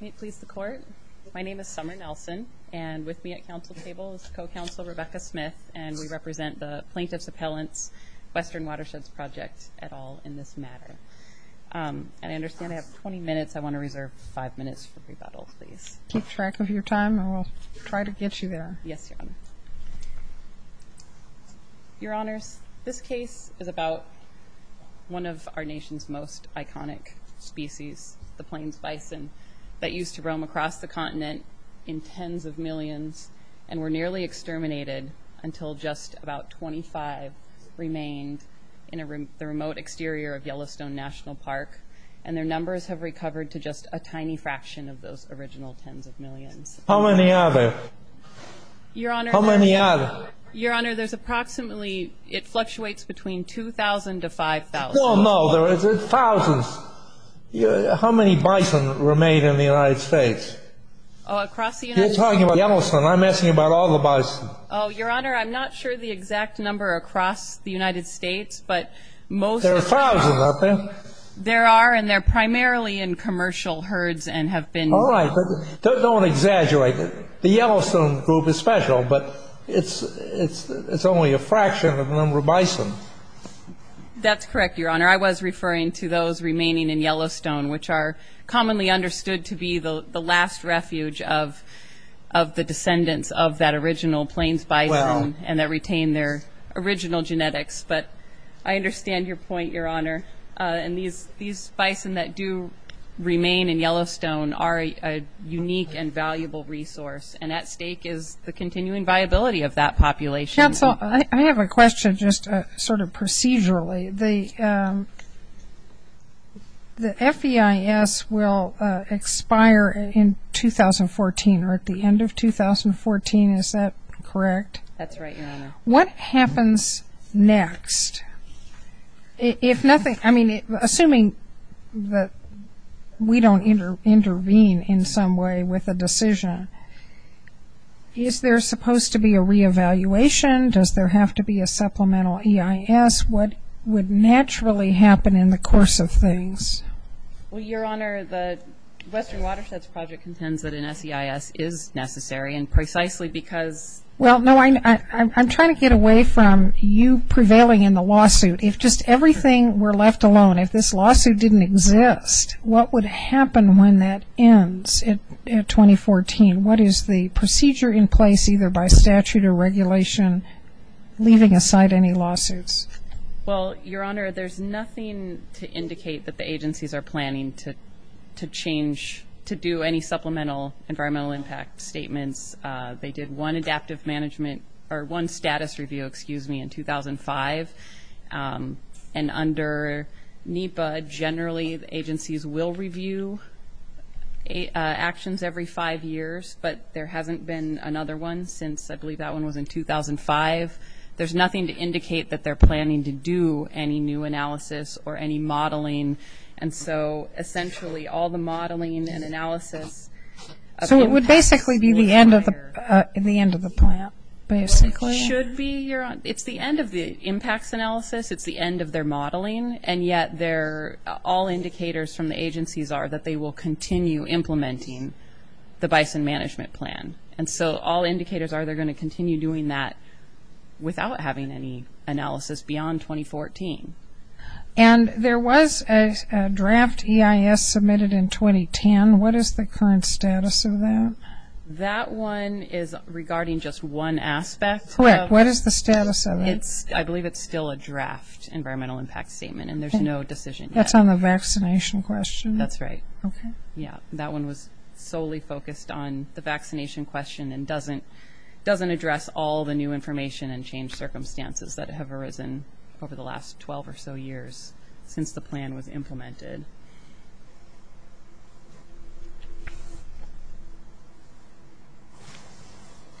May it please the court, my name is Summer Nelson and with me at council table is co-counsel Rebecca Smith and we represent the Plaintiff's Appellant's Western Watersheds Project at all in this matter. And I understand I have 20 minutes, I want to reserve five minutes for rebuttal please. Keep track of your time and we'll try to get you there. Yes your honor. Your honors, this case is about one of our nation's most iconic species, the plains bison that used to roam across the continent in tens of millions and were nearly exterminated until just about 25 remained in the remote exterior of Yellowstone National Park and their numbers have recovered to just a tiny fraction of those original tens of millions. How many are there? Your honor, there's approximately, it fluctuates between 2,000 to 5,000. How many bison remain in the United States? Oh across the United States? You're talking about Yellowstone, I'm asking about all the bison. Oh your honor, I'm not sure the exact number across the United States but most... There are thousands aren't there? There are and they're primarily in commercial herds and have been... Don't exaggerate, the Yellowstone group is special but it's only a fraction of the number of bison. That's correct your honor, I was referring to those remaining in Yellowstone which are commonly understood to be the last refuge of the descendants of that original plains bison and that retained their original genetics but I understand your point your honor and these unique and valuable resource and at stake is the continuing viability of that population. I have a question just sort of procedurally, the FEIS will expire in 2014 or at the end of 2014, is that correct? That's right your honor. What happens next? Assuming that we don't intervene in some way with a decision, is there supposed to be a re-evaluation? Does there have to be a supplemental EIS? What would naturally happen in the course of things? Well your honor, the Western Watersheds Project contends that an SEIS is necessary and precisely because... Well no, I'm trying to get away from you prevailing in the lawsuit. If just everything were left alone, if this lawsuit didn't exist, what would happen when that ends in 2014? What is the procedure in place either by statute or regulation leaving aside any lawsuits? Well your honor, there's nothing to indicate that the agencies are planning to change, to do any supplemental environmental impact statements. They did one adaptive management or one status review, excuse me, in 2005 and under NEPA generally the agencies will review actions every five years but there hasn't been another one since I believe that one was in 2005. There's nothing to indicate that they're planning to do any new analysis or any modeling and so essentially all the modeling and analysis... So it would basically be the end of the plan? Basically should be your honor, it's the end of the impacts analysis, it's the end of their modeling and yet they're all indicators from the agencies are that they will continue implementing the bison management plan and so all indicators are they're going to continue doing that without having any analysis beyond 2014. And there was a draft EIS submitted in 2010, what is the current status of that? That one is regarding just one aspect. Correct, what is the status of it? I believe it's still a draft environmental impact statement and there's no decision yet. That's on the vaccination question? That's right. Okay. Yeah, that one was all the new information and change circumstances that have arisen over the last 12 or so years since the plan was implemented.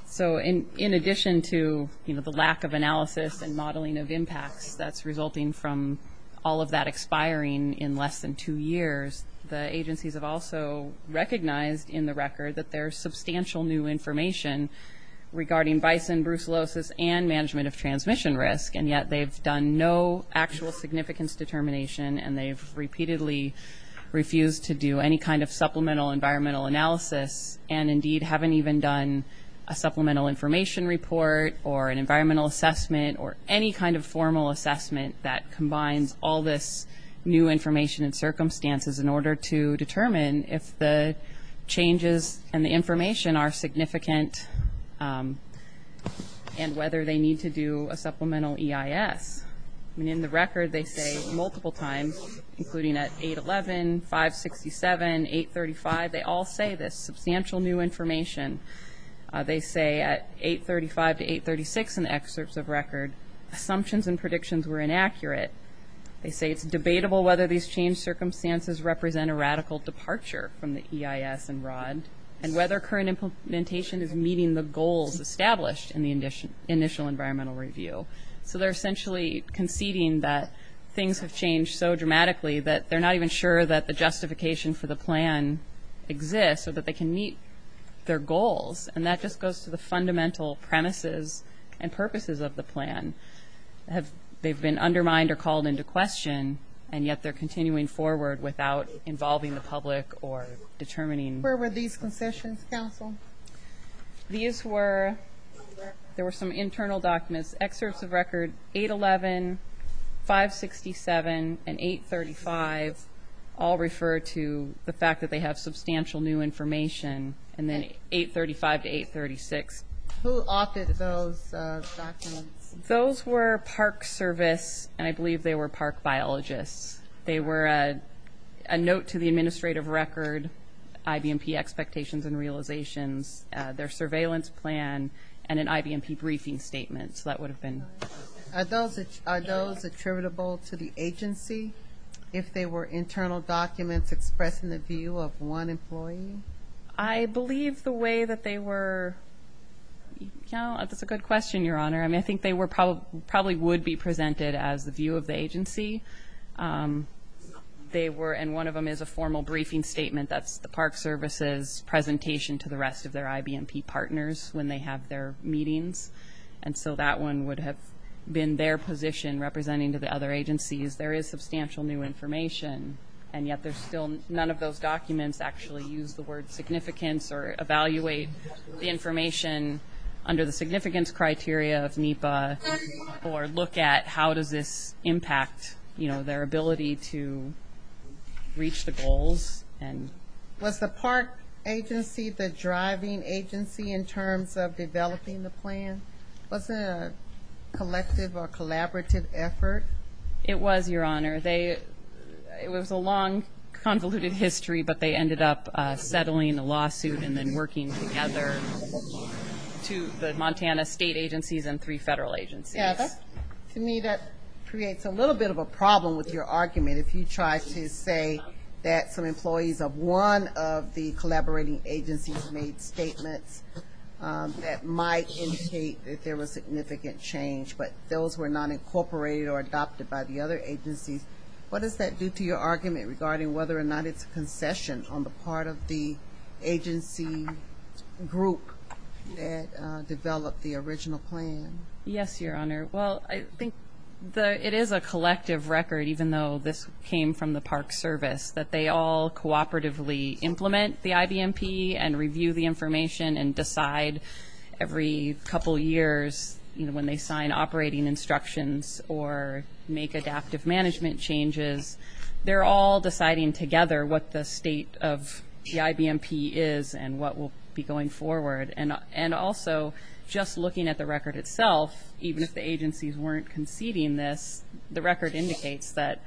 So in addition to the lack of analysis and modeling of impacts that's resulting from all of that expiring in less than two years, the agencies have also recognized in the record that there's substantial new information regarding bison brucellosis and management of transmission risk and yet they've done no actual significance determination and they've repeatedly refused to do any kind of supplemental environmental analysis and indeed haven't even done a supplemental information report or an environmental assessment or any kind of formal assessment that combines all this new information and circumstances in order to determine if the changes and the information are significant and whether they need to do a supplemental EIS. I mean in the record they say multiple times including at 8-11, 5-67, 8-35, they all say this substantial new information. They say at 8-35 to 8-36 in excerpts of record assumptions and predictions were inaccurate they say it's debatable whether these change circumstances represent a radical departure from the EIS and ROD and whether current implementation is meeting the goals established in the initial environmental review. So they're essentially conceding that things have changed so dramatically that they're not even sure that the justification for the plan exists or that they can meet their goals and that just goes to the fundamental premises and purposes of the plan. They've been undermined or called into question and yet they're continuing forward without involving the public or determining. Where were these concessions counsel? These were there were some internal documents excerpts of record 8-11, 5-67 and 8-35 all refer to the fact that they have substantial new information and then 8-35 to 8-36. Who authored those documents? Those were park service and I believe they were park biologists. They were a note to the administrative record, IBMP expectations and realizations, their surveillance plan and an IBMP briefing statement so that would have been. Are those attributable to the agency if they were internal documents expressing the employee? I believe the way that they were, yeah that's a good question your honor. I mean I think they were probably would be presented as the view of the agency. They were and one of them is a formal briefing statement that's the park services presentation to the rest of their IBMP partners when they have their meetings and so that one would have been their position representing to the other agencies. There is substantial new information and yet there's still none of those documents actually use the word significance or evaluate the information under the significance criteria of NEPA or look at how does this impact you know their ability to reach the goals. Was the park agency the driving agency in terms of developing the plan? Was it a collective or collaborative effort? It was your honor. It was a long convoluted history but they ended up settling a lawsuit and then working together to the Montana state agencies and three federal agencies. To me that creates a little bit of a problem with your argument if you try to say that some employees of one of the collaborating agencies made statements that might indicate that there was significant change but those were not incorporated or adopted by the other agencies. What does that do to your argument regarding whether or not it's a concession on the part of the agency group that developed the original plan? Yes your honor well I think the it is a collective record even though this came from the park service that they all cooperatively implement the IBMP and review the information and decide every couple years you know when they sign operating instructions or make adaptive management changes they're all deciding together what the state of the IBMP is and what will be going forward and and also just looking at the record itself even if the agencies weren't conceding this the record indicates that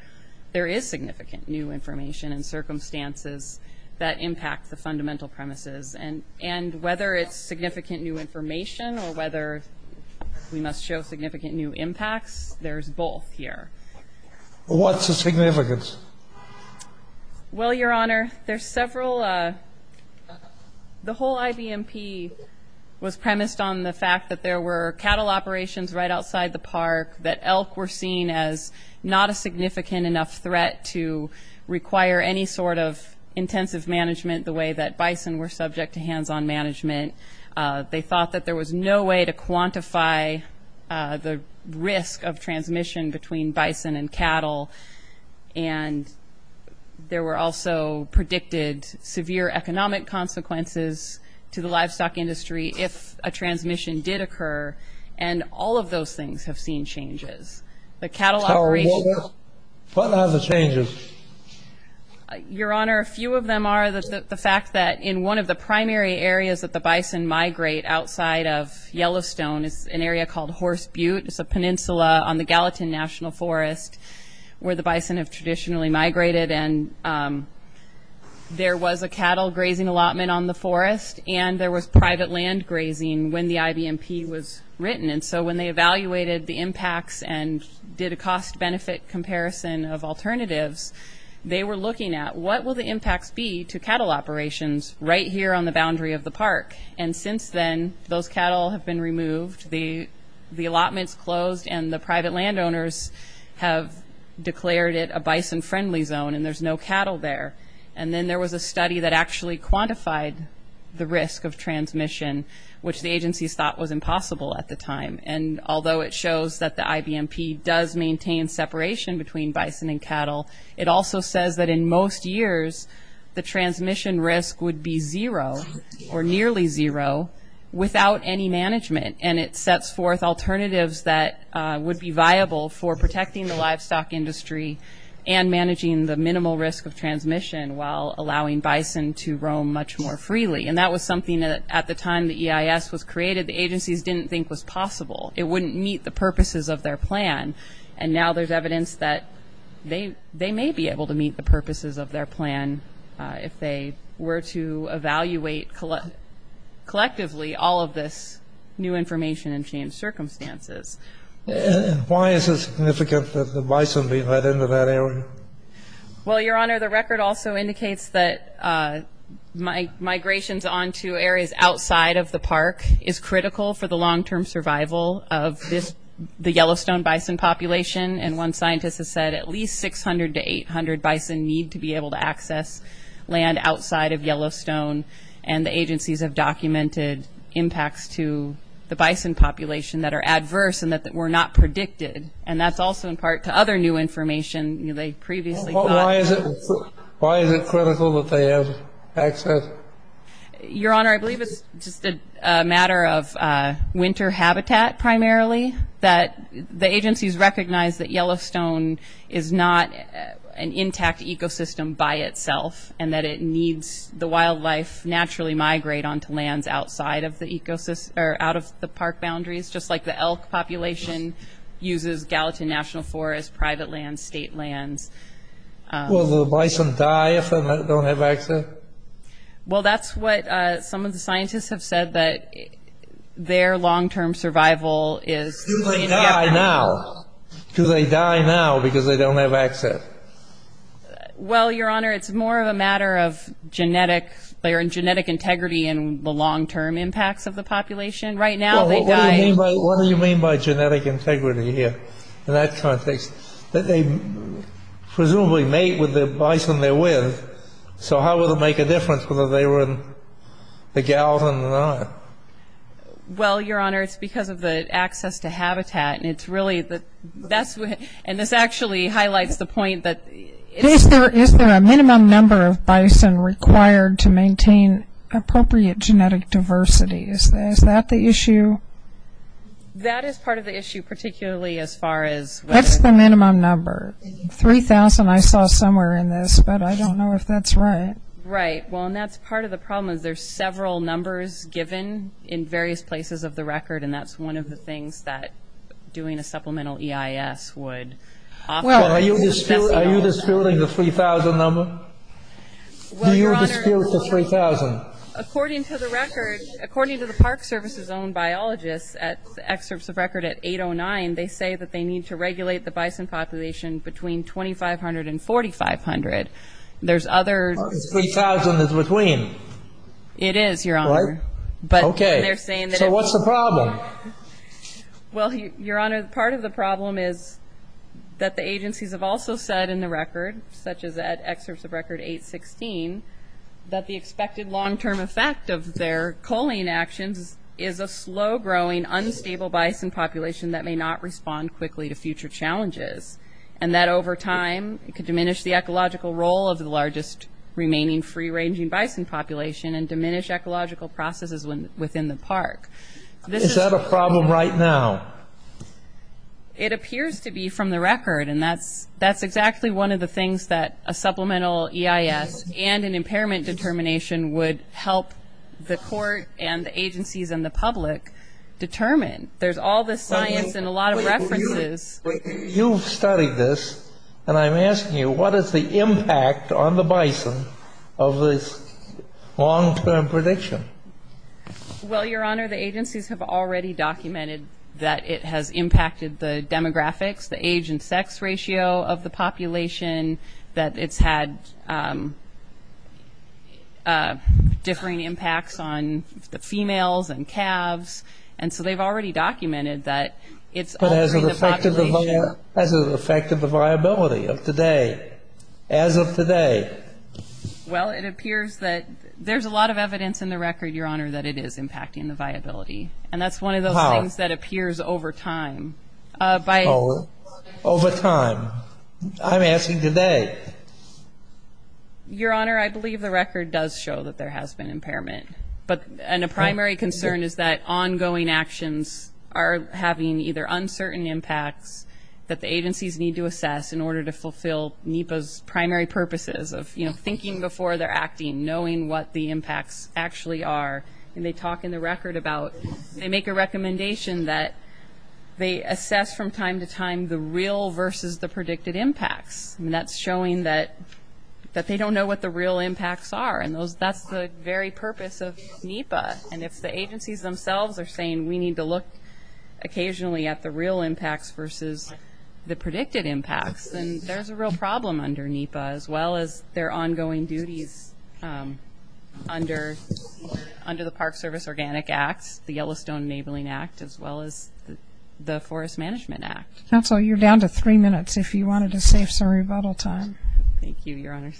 there is significant new information and circumstances that impact the fundamental premises and and whether it's significant new information or whether we must show significant new impacts there's both here. What's the significance? Well your honor there's several uh the whole IBMP was premised on the fact that there were seen as not a significant enough threat to require any sort of intensive management the way that bison were subject to hands-on management. They thought that there was no way to quantify the risk of transmission between bison and cattle and there were also predicted severe economic consequences to the livestock industry if a transmission did occur and all of those things have seen changes. The cattle operation. What are the changes? Your honor a few of them are the fact that in one of the primary areas that the bison migrate outside of Yellowstone is an area called Horse Butte it's a peninsula on the Gallatin National Forest where the bison have traditionally migrated and there was a cattle grazing allotment on the forest and there was private land grazing when the IBMP was written and so when they evaluated the impacts and did a cost-benefit comparison of alternatives they were looking at what will the impacts be to cattle operations right here on the boundary of the park and since then those cattle have been removed the the allotments closed and the private landowners have declared it a bison friendly zone and there's no cattle there and then there was a study that actually quantified the risk of transmission which the agencies thought was impossible at the time and although it shows that the IBMP does maintain separation between bison and cattle it also says that in most years the transmission risk would be zero or nearly zero without any management and it sets forth alternatives that would be viable for protecting the livestock industry and managing the minimal risk of EIS was created the agencies didn't think was possible it wouldn't meet the purposes of their plan and now there's evidence that they may be able to meet the purposes of their plan if they were to evaluate collectively all of this new information and change circumstances. Why is it significant that the bison be let into that area? Well your honor the record also indicates that migrations onto areas outside of the park is critical for the long-term survival of this the Yellowstone bison population and one scientist has said at least 600 to 800 bison need to be able to access land outside of Yellowstone and the agencies have documented impacts to the bison population that are adverse and that were not information they previously got. Why is it critical that they have access? Your honor I believe it's just a matter of winter habitat primarily that the agencies recognize that Yellowstone is not an intact ecosystem by itself and that it needs the wildlife naturally migrate onto lands outside of the ecosystem or out of the park boundaries just like the elk population uses gallatin national forests private lands state lands. Will the bison die if they don't have access? Well that's what some of the scientists have said that their long-term survival is. Do they die now? Do they die now because they don't have access? Well your honor it's more of a matter of genetic they're in genetic integrity and the long-term impacts of the population right now they die. What do you mean by genetic integrity here in that context that they presumably mate with the bison they're with so how will it make a difference whether they were in the gallatin or not? Well your honor it's because of the access to habitat and it's really the that's what and this actually highlights the point that. Is there a minimum number of bison required to maintain appropriate genetic diversity? Is that the issue? That is part of the issue particularly as far as. That's the minimum number 3,000 I saw somewhere in this but I don't know if that's right. Right well and that's part of the problem is there's several numbers given in various places of the record and that's one of the things that doing a supplemental EIS would offer. Are you disputing the 3,000 number? Do you dispute the 3,000? According to the record according to the Park Service's own biologists at excerpts of record at 809 they say that they need to regulate the bison population between 2,500 and 4,500. There's others. 3,000 is between. It is your honor but okay they're saying that. So what's the problem? Well your honor part of the problem is that the agencies have also said in the record such as at excerpts of record 816 that the expected long-term effect of their culling actions is a slow-growing unstable bison population that may not respond quickly to future challenges and that over time it could diminish the ecological role of the largest remaining free-ranging bison population and diminish ecological processes within the park. Is that a problem right now? It appears to be from the record and that's that's exactly one of the things that a supplemental EIS and an impairment determination would help the court and the agencies and the public determine. There's all this science and a lot of references. You've studied this and I'm asking you what is the impact on the bison of this long-term prediction? Well your honor the agencies have already documented that it has impacted the demographics the age and sex ratio of the population that it's had differing impacts on the females and calves and so they've already as of today. Well it appears that there's a lot of evidence in the record your honor that it is impacting the viability and that's one of those things that appears over time. Over time? I'm asking today. Your honor I believe the record does show that there has been impairment but and a primary concern is that ongoing actions are having either uncertain impacts that the primary purposes of you know thinking before they're acting knowing what the impacts actually are and they talk in the record about they make a recommendation that they assess from time to time the real versus the predicted impacts and that's showing that that they don't know what the real impacts are and those that's the very purpose of NEPA and if the agencies themselves are saying we need to look occasionally at the real impacts versus the predicted impacts then there's a real problem under NEPA as well as their ongoing duties under the Park Service Organic Act, the Yellowstone Enabling Act, as well as the Forest Management Act. Counselor you're down to three minutes if you wanted to save some rebuttal time. Thank you your honor.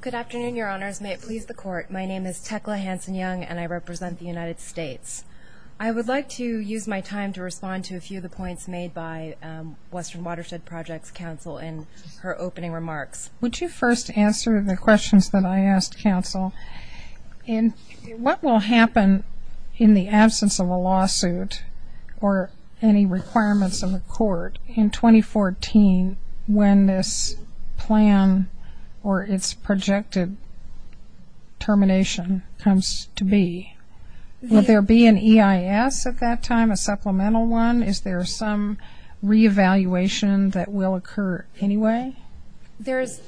Good afternoon your honors. May it please the court. My name is Tekla Hanson-Young and I represent the United States. I would like to use my time to respond to a few of the points made by Western Watershed Projects Council in her opening remarks. Would you first answer the questions that I asked counsel. What will happen in the absence of a lawsuit or any requirements of the court in 2014 when this plan or its projected termination comes to be? Will there be an EIS at that time, a supplemental one? Is there some re-evaluation that will occur anyway? There's,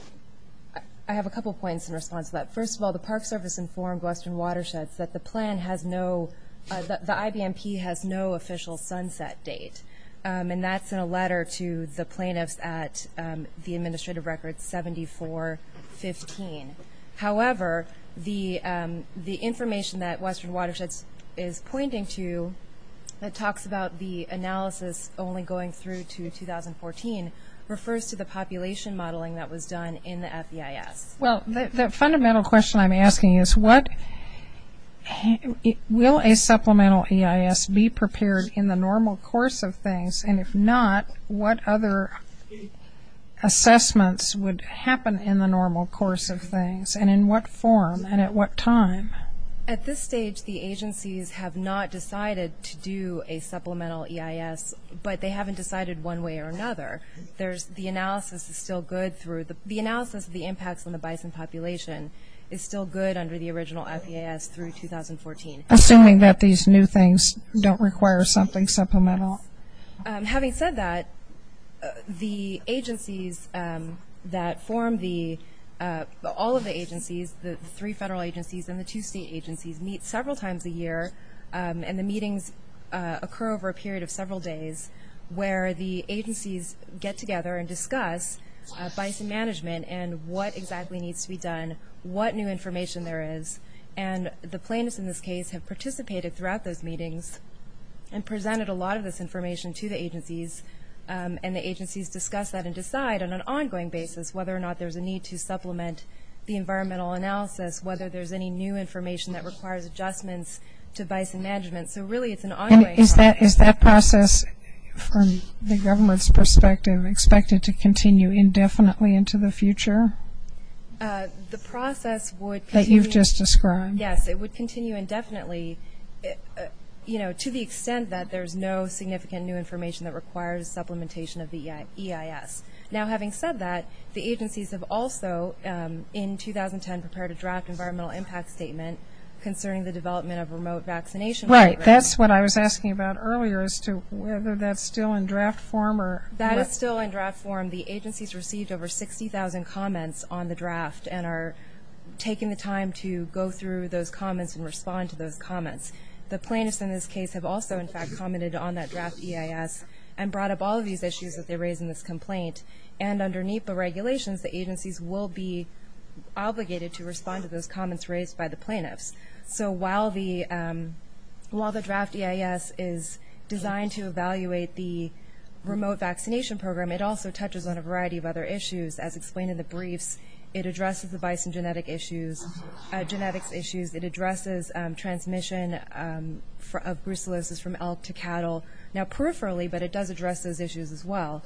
I have a couple points in response to that. First of all, the Park Service informed Western Watersheds that the plan has no, the IBMP has no official sunset date and that's in a letter to the plaintiffs at the administrative record 7415. However, the information that Western Watersheds is pointing to that talks about the analysis only going through to 2014 refers to the population modeling that was done in the FEIS. Well, the fundamental question I'm asking is what, will a supplemental EIS be prepared in the normal course of things and if not, what other assessments would happen in the normal course of things and in what form and at what time? At this stage, the agencies have not decided to do a supplemental EIS, but they haven't decided one way or another. There's, the analysis is still good through, the analysis of the impacts on the bison population is still good under the original FEIS through 2014. Assuming that these new things don't require something supplemental. Having said that, the agencies that form the, all of the agencies, the three federal agencies and the two state agencies meet several times a year and the meetings occur over a period of several days where the agencies get together and discuss bison management and what exactly needs to be done, what new information there is. And the plaintiffs in this case have participated throughout those meetings and presented a lot of this information to the agencies and the agencies discuss that and decide on an ongoing basis whether or not there's a need to supplement the environmental analysis, whether there's any new information that requires adjustments to bison management. So really it's an ongoing process. Is that process, from the government's perspective, expected to continue indefinitely into the future? The process would continue. That you've just described. Yes, it would continue indefinitely, you know, to the extent that there's no significant new information that requires supplementation of the EIS. Now having said that, the agencies have also, in 2010, prepared a draft environmental impact statement concerning the development of remote vaccination programs. Right, that's what I was asking about earlier as to whether that's still in draft form or. That is still in draft form. The agencies received over 60,000 comments on the draft and are taking the time to go through those comments and respond to those comments. The plaintiffs in this case have also, in fact, commented on that draft EIS and brought up all of these issues that they raised in this complaint. And underneath the regulations, the agencies will be obligated to respond to those comments raised by the plaintiffs. So while the draft EIS is designed to evaluate the remote vaccination program, it also touches on a variety of other issues. As explained in the briefs, it addresses the bison genetics issues. It addresses transmission of brucellosis from elk to cattle. Now peripherally, but it does address those issues as well.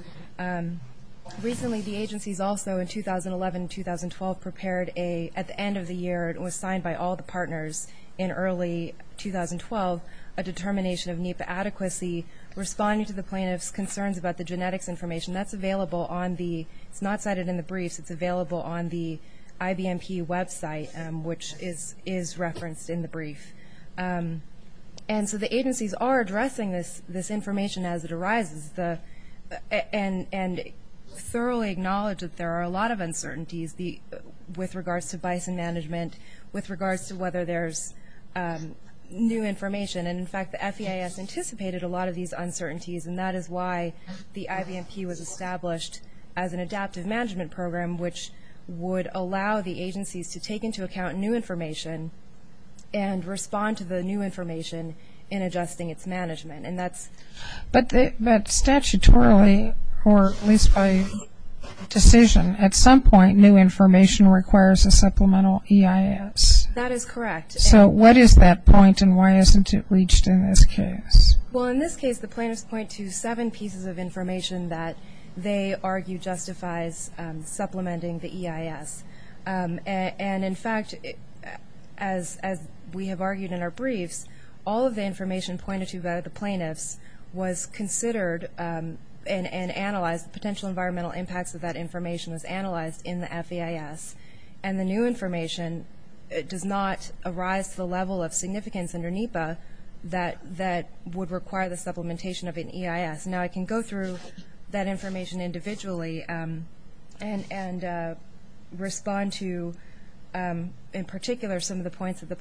Recently, the agencies also, in 2011 and 2012, prepared a, at the end of the year, it was signed by all the partners in early 2012, a determination of NEPA adequacy responding to the plaintiffs' concerns about the genetics information. That's available on the, it's not cited in the briefs, it's available on the IBMP website, which is referenced in the brief. And so the agencies are addressing this information as it arises. And thoroughly acknowledge that there are a lot of uncertainties with regards to bison management, with regards to whether there's new information. And, in fact, the FEIS anticipated a lot of these uncertainties, and that is why the IBMP was established as an adaptive management program, which would allow the agencies to take into account new information and respond to the new information in adjusting its management. But statutorily, or at least by decision, at some point, new information requires a supplemental EIS. That is correct. So what is that point, and why isn't it reached in this case? Well, in this case, the plaintiffs point to seven pieces of information that they argue justifies supplementing the EIS. And, in fact, as we have argued in our briefs, all of the information pointed to by the plaintiffs was considered and analyzed, potential environmental impacts of that information was analyzed in the FEIS. And the new information does not arise to the level of significance under NEPA that would require the supplementation of an EIS. Now I can go through that information individually and respond to, in particular, some of the points that the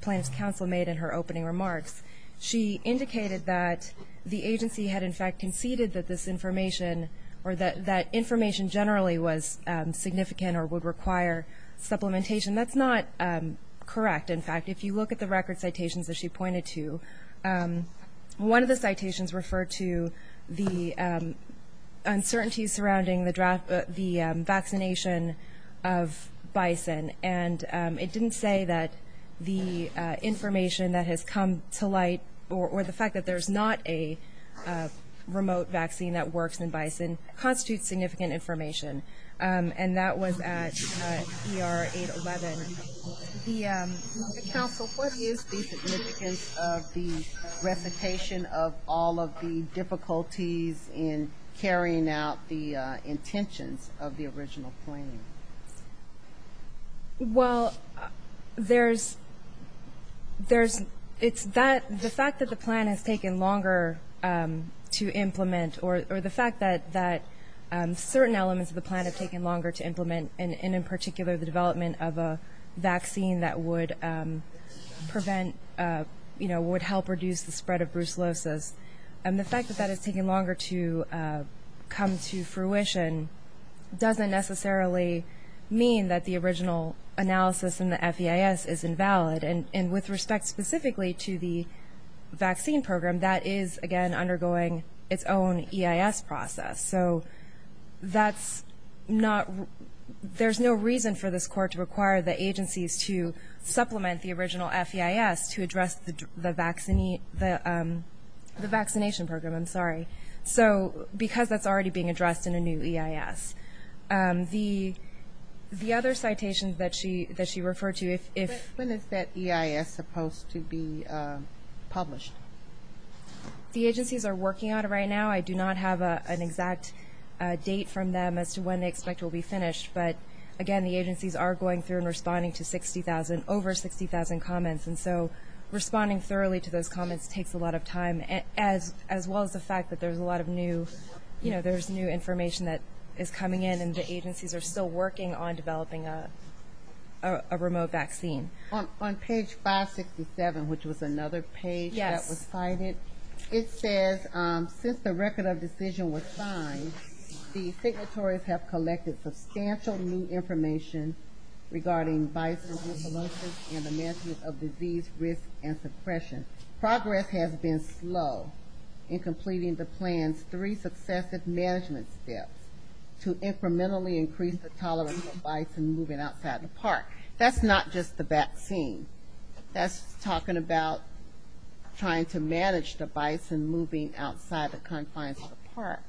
plaintiff's counsel made in her opening remarks. She indicated that the agency had, in fact, conceded that this information or that information generally was significant or would require supplementation. That's not correct, in fact. If you look at the record citations that she pointed to, one of the citations referred to the uncertainty surrounding the vaccination of bison. And it didn't say that the information that has come to light or the fact that there's not a remote vaccine that works in bison constitutes significant information. And that was at ER 811. The counsel, what is the significance of the recitation of all of the difficulties in carrying out the intentions of the original plan? Well, there's the fact that the plan has taken longer to implement or the fact that certain elements of the plan have taken longer to implement, and in particular the development of a vaccine that would help reduce the spread of brucellosis. And the fact that that has taken longer to come to fruition doesn't necessarily mean that the original analysis in the FEIS is invalid. And with respect specifically to the vaccine program, that is, again, undergoing its own EIS process. So that's not ‑‑ there's no reason for this court to require the agencies to supplement the original FEIS to address the vaccination program. I'm sorry. So because that's already being addressed in a new EIS. The other citations that she referred to, if ‑‑ When is that EIS supposed to be published? The agencies are working on it right now. I do not have an exact date from them as to when they expect it will be finished. But, again, the agencies are going through and responding to 60,000, over 60,000 comments. And so responding thoroughly to those comments takes a lot of time, as well as the fact that there's a lot of new, you know, there's new information that is coming in and the agencies are still working on developing a remote vaccine. On page 567, which was another page that was cited, it says, since the record of decision was signed, the signatories have collected substantial new information regarding bison and the management of disease risk and suppression. Progress has been slow in completing the plan's three successive management steps to incrementally increase the tolerance of bison moving outside the park. That's not just the vaccine. That's talking about trying to manage the bison moving outside the confines of the park.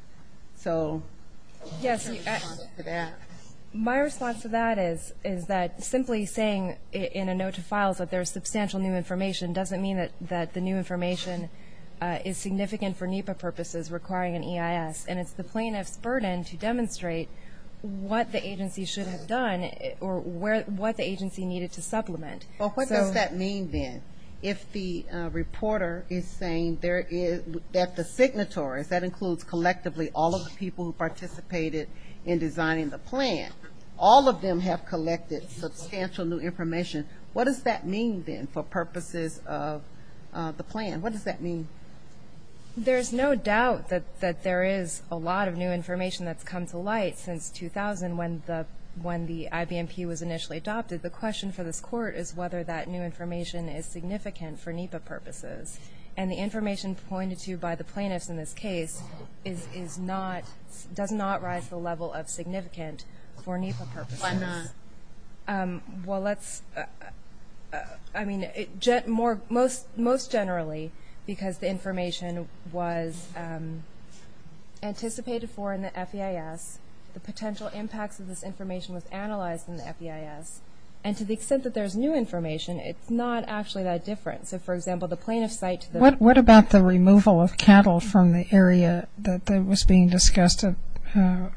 So, my response to that is that simply saying in a note to files that there's substantial new information doesn't mean that the new information is significant for NEPA purposes requiring an EIS. And it's the plaintiff's burden to demonstrate what the agency should have done or what the agency needed to supplement. Well, what does that mean, then, if the reporter is saying that the signatories, that includes collectively all of the people who participated in designing the plan, all of them have collected substantial new information, what does that mean, then, for purposes of the plan? What does that mean? There's no doubt that there is a lot of new information that's come to light since 2000, when the IBMP was initially adopted. The question for this Court is whether that new information is significant for NEPA purposes. And the information pointed to by the plaintiffs in this case is not, does not rise to the level of significant for NEPA purposes. Why not? Well, let's, I mean, most generally, because the information was anticipated for in the FEIS, the potential impacts of this information was analyzed in the FEIS, and to the extent that there's new information, it's not actually that different. So, for example, the plaintiff's site to the- What about the removal of cattle from the area that was being discussed at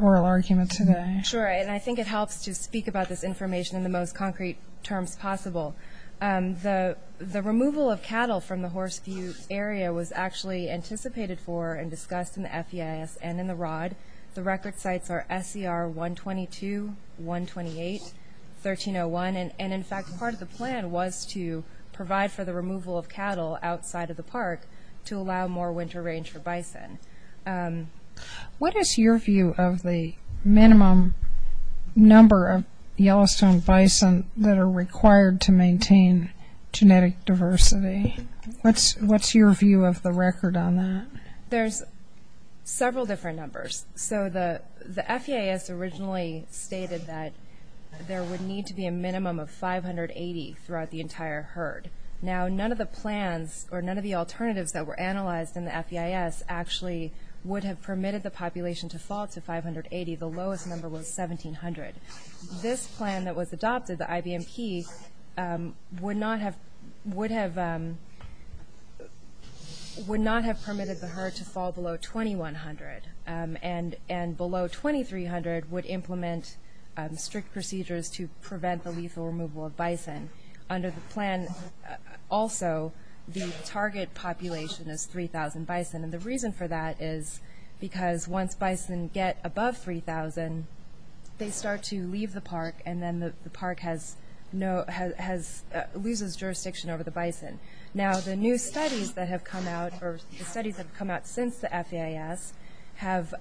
oral argument today? Sure, and I think it helps to speak about this information in the most concrete terms possible. The removal of cattle from the Horse View area was actually anticipated for and discussed in the FEIS and in the ROD. The record sites are SCR 122, 128, 1301, and in fact part of the plan was to provide for the removal of cattle outside of the park to allow more winter range for bison. What is your view of the minimum number of Yellowstone bison that are required to maintain genetic diversity? What's your view of the record on that? There's several different numbers. So the FEIS originally stated that there would need to be a minimum of 580 throughout the entire herd. Now, none of the plans or none of the alternatives that were analyzed in the FEIS actually would have permitted the population to fall to 580. The lowest number was 1,700. This plan that was adopted, the IBMP, would not have permitted the herd to fall below 2,100, and below 2,300 would implement strict procedures to prevent the lethal removal of bison. Under the plan also, the target population is 3,000 bison, and the reason for that is because once bison get above 3,000, they start to leave the park, and then the park loses jurisdiction over the bison. Now, the new studies that have come out, or the studies that have come out since the FEIS, have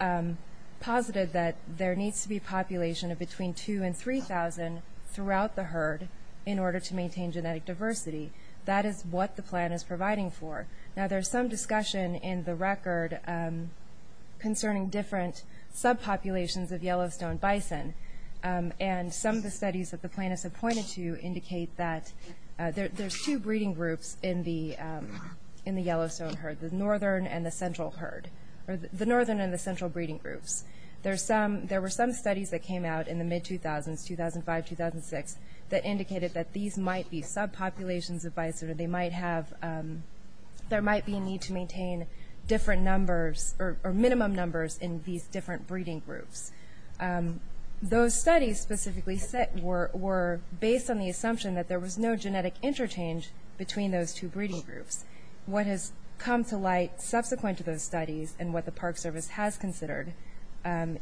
posited that there needs to be a population of between 2,000 and 3,000 throughout the herd in order to maintain genetic diversity. That is what the plan is providing for. Now, there's some discussion in the record concerning different subpopulations of Yellowstone bison, and some of the studies that the plan has pointed to indicate that there's two breeding groups in the Yellowstone herd, the northern and the central breeding groups. There were some studies that came out in the mid-2000s, 2005-2006, that indicated that these might be subpopulations of bison, or there might be a need to maintain different numbers, or minimum numbers, in these different breeding groups. Those studies specifically were based on the assumption that there was no genetic interchange between those two breeding groups. What has come to light subsequent to those studies, and what the Park Service has considered,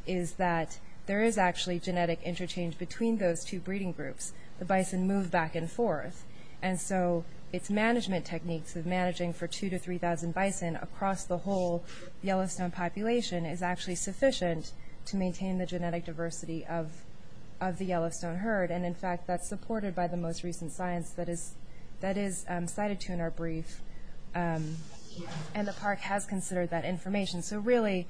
is that there is actually genetic interchange between those two breeding groups. The bison move back and forth. And so its management techniques of managing for 2,000 to 3,000 bison across the whole Yellowstone population is actually sufficient to maintain the genetic diversity of the Yellowstone herd. And in fact, that's supported by the most recent science that is cited to in our brief. And the Park has considered that information. So really,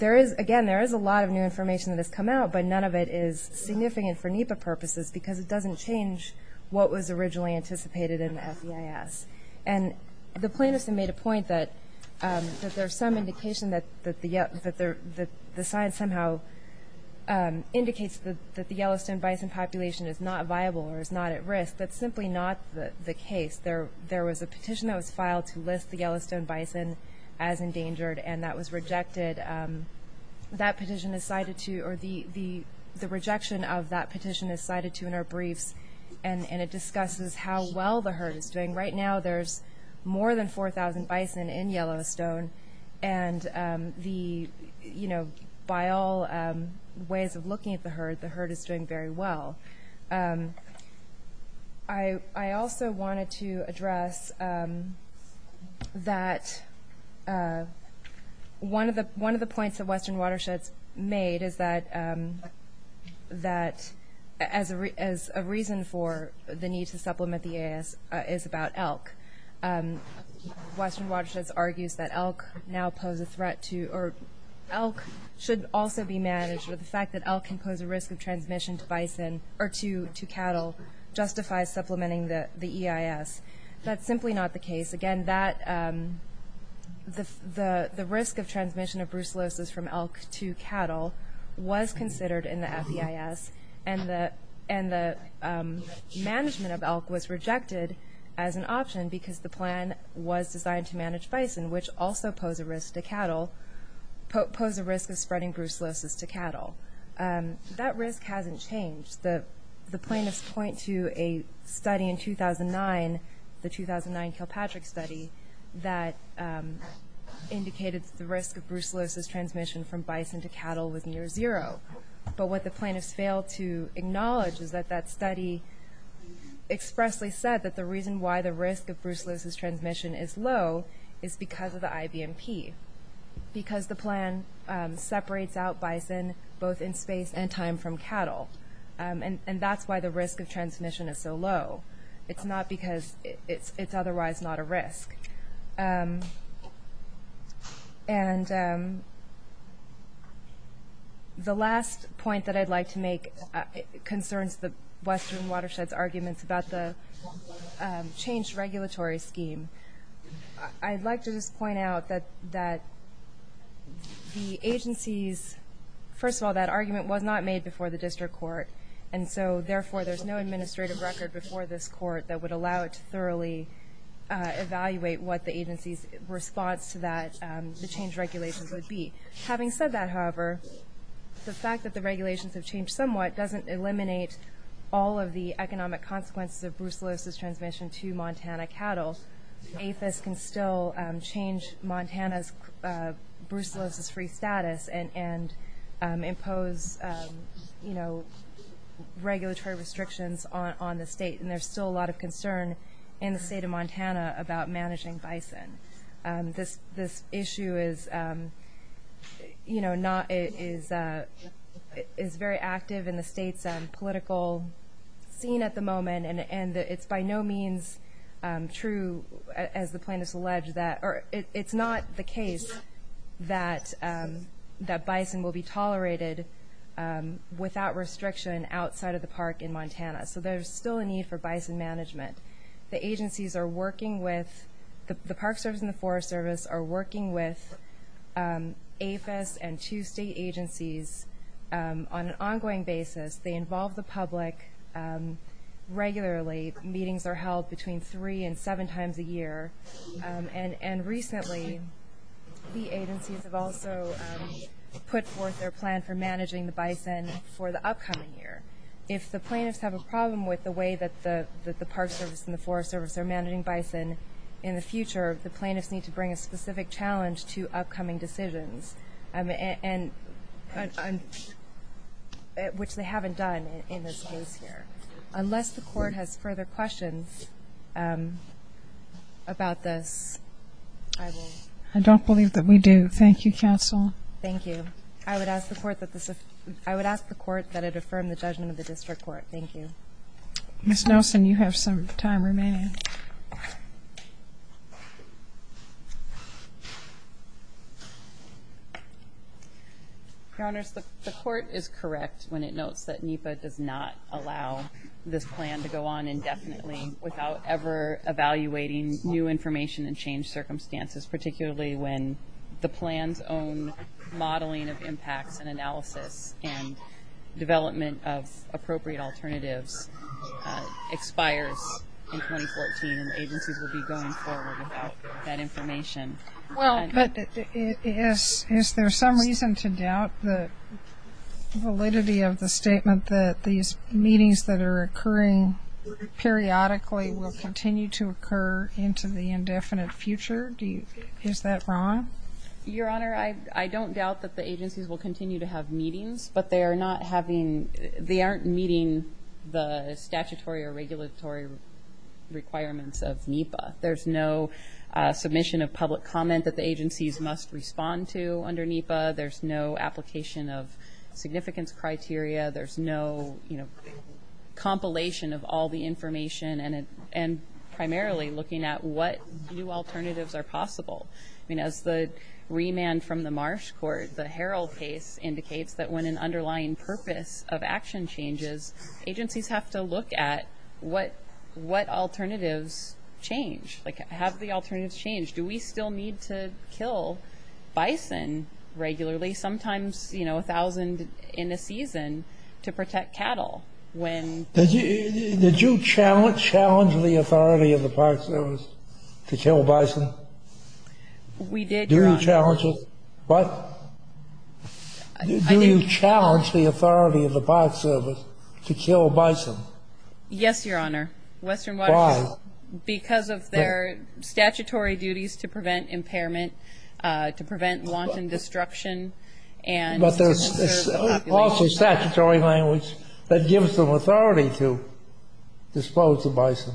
again, there is a lot of new information that has come out, but none of it is significant for NEPA purposes, because it doesn't change what was originally anticipated in the FEIS. And the plan has made a point that there's some indication that the science somehow indicates that the Yellowstone bison population is not viable or is not at risk. That's simply not the case. There was a petition that was filed to list the Yellowstone bison as endangered, and that was rejected. That petition is cited to, or the rejection of that petition is cited to in our briefs, and it discusses how well the herd is doing. Right now there's more than 4,000 bison in Yellowstone, and by all ways of looking at the herd, the herd is doing very well. I also wanted to address that one of the points that Western Watersheds made is that a reason for the need to supplement the EIS is about elk. Western Watersheds argues that elk should also be managed, or the fact that elk can pose a risk of transmission to cattle justifies supplementing the EIS. That's simply not the case. Again, the risk of transmission of brucellosis from elk to cattle was considered in the FEIS, and the management of elk was rejected as an option because the plan was designed to manage bison, which also posed a risk of spreading brucellosis to cattle. That risk hasn't changed. The plaintiffs point to a study in 2009, the 2009 Kilpatrick study, that indicated that the risk of brucellosis transmission from bison to cattle was near zero. But what the plaintiffs failed to acknowledge is that that study expressly said that the reason why the risk of brucellosis transmission is low is because of the IVMP, because the plan separates out bison both in space and time from cattle, and that's why the risk of transmission is so low. It's not because it's otherwise not a risk. And the last point that I'd like to make concerns the Western Watershed's arguments about the changed regulatory scheme. I'd like to just point out that the agency's, first of all, that argument was not made before the district court, and so therefore there's no administrative record before this court that would allow it to thoroughly evaluate what the agency's response to that, the changed regulations would be. Having said that, however, the fact that the regulations have changed somewhat doesn't eliminate all of the economic consequences of brucellosis transmission to Montana cattle. APHIS can still change Montana's brucellosis-free status and impose regulatory restrictions on the state, and there's still a lot of concern in the state of Montana about managing bison. This issue is very active in the state's political scene at the moment, and it's by no means true, as the plaintiffs allege, that it's not the case that bison will be tolerated without restriction outside of the park in Montana. So there's still a need for bison management. The agencies are working with the Park Service and the Forest Service are working with APHIS and two state agencies on an ongoing basis. They involve the public regularly. Meetings are held between three and seven times a year, and recently the agencies have also put forth their plan for managing the bison for the upcoming year. If the plaintiffs have a problem with the way that the Park Service and the Forest Service are managing bison in the future, the plaintiffs need to bring a specific challenge to upcoming decisions, which they haven't done in this case here. Unless the Court has further questions about this, I will. I don't believe that we do. Thank you, counsel. Thank you. I would ask the Court that it affirm the judgment of the district court. Thank you. Ms. Nelson, you have some time remaining. Your Honors, the Court is correct when it notes that NEPA does not allow this plan to go on indefinitely without ever evaluating new information and changed circumstances, particularly when the plan's own modeling of impacts and analysis and development of appropriate alternatives expires in 2014 and agencies will be going forward without that information. Is there some reason to doubt the validity of the statement that these meetings that are occurring periodically will continue to occur into the indefinite future? Is that wrong? Your Honor, I don't doubt that the agencies will continue to have meetings, but they aren't meeting the statutory or regulatory requirements of NEPA. There's no submission of public comment that the agencies must respond to under NEPA. There's no application of significance criteria. There's no compilation of all the information and primarily looking at what new alternatives are possible. As the remand from the Marsh Court, the Harrell case indicates that when an underlying purpose of action changes, agencies have to look at what alternatives change. Have the alternatives changed? Do we still need to kill bison regularly, sometimes 1,000 in a season, to protect cattle? Did you challenge the authority of the Park Service to kill bison? We did, Your Honor. Do you challenge the authority of the Park Service to kill bison? Yes, Your Honor. Why? Because of their statutory duties to prevent impairment, to prevent wanton destruction. But there's also statutory language that gives them authority to dispose of bison.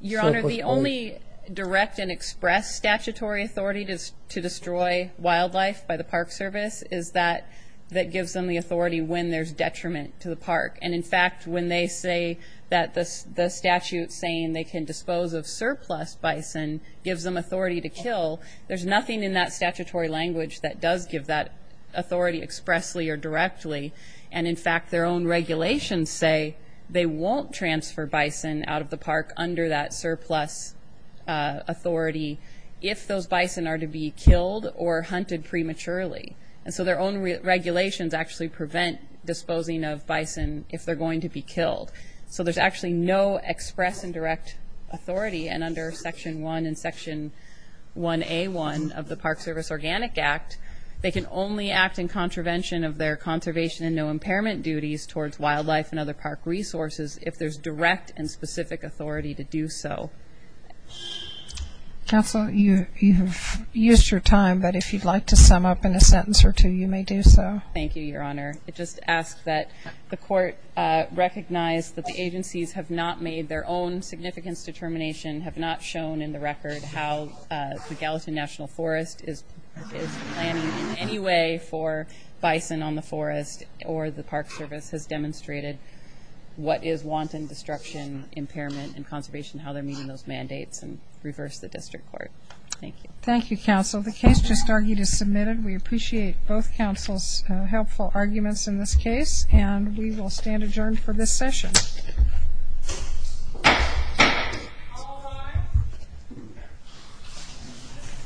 Your Honor, the only direct and express statutory authority to destroy wildlife by the Park Service is that that gives them the authority when there's detriment to the park. And, in fact, when they say that the statute saying they can dispose of surplus bison gives them authority to kill, there's nothing in that statutory language that does give that authority expressly or directly. And, in fact, their own regulations say they won't transfer bison out of the park under that surplus authority if those bison are to be killed or hunted prematurely. And so their own regulations actually prevent disposing of bison if they're going to be killed. So there's actually no express and direct authority. And under Section 1 and Section 1A1 of the Park Service Organic Act, they can only act in contravention of their conservation and no impairment duties towards wildlife and other park resources if there's direct and specific authority to do so. Counsel, you have used your time, but if you'd like to sum up in a sentence or two, you may do so. Thank you, Your Honor. I just ask that the Court recognize that the agencies have not made their own significance determination, have not shown in the record how the Gallatin National Forest is planning in any way for bison on the forest or the Park Service has demonstrated what is wanton destruction, impairment, and conservation, how they're meeting those mandates, and reverse the district court. Thank you. Thank you, Counsel. The case just argued is submitted. We appreciate both counsel's helpful arguments in this case, and we will stand adjourned for this session.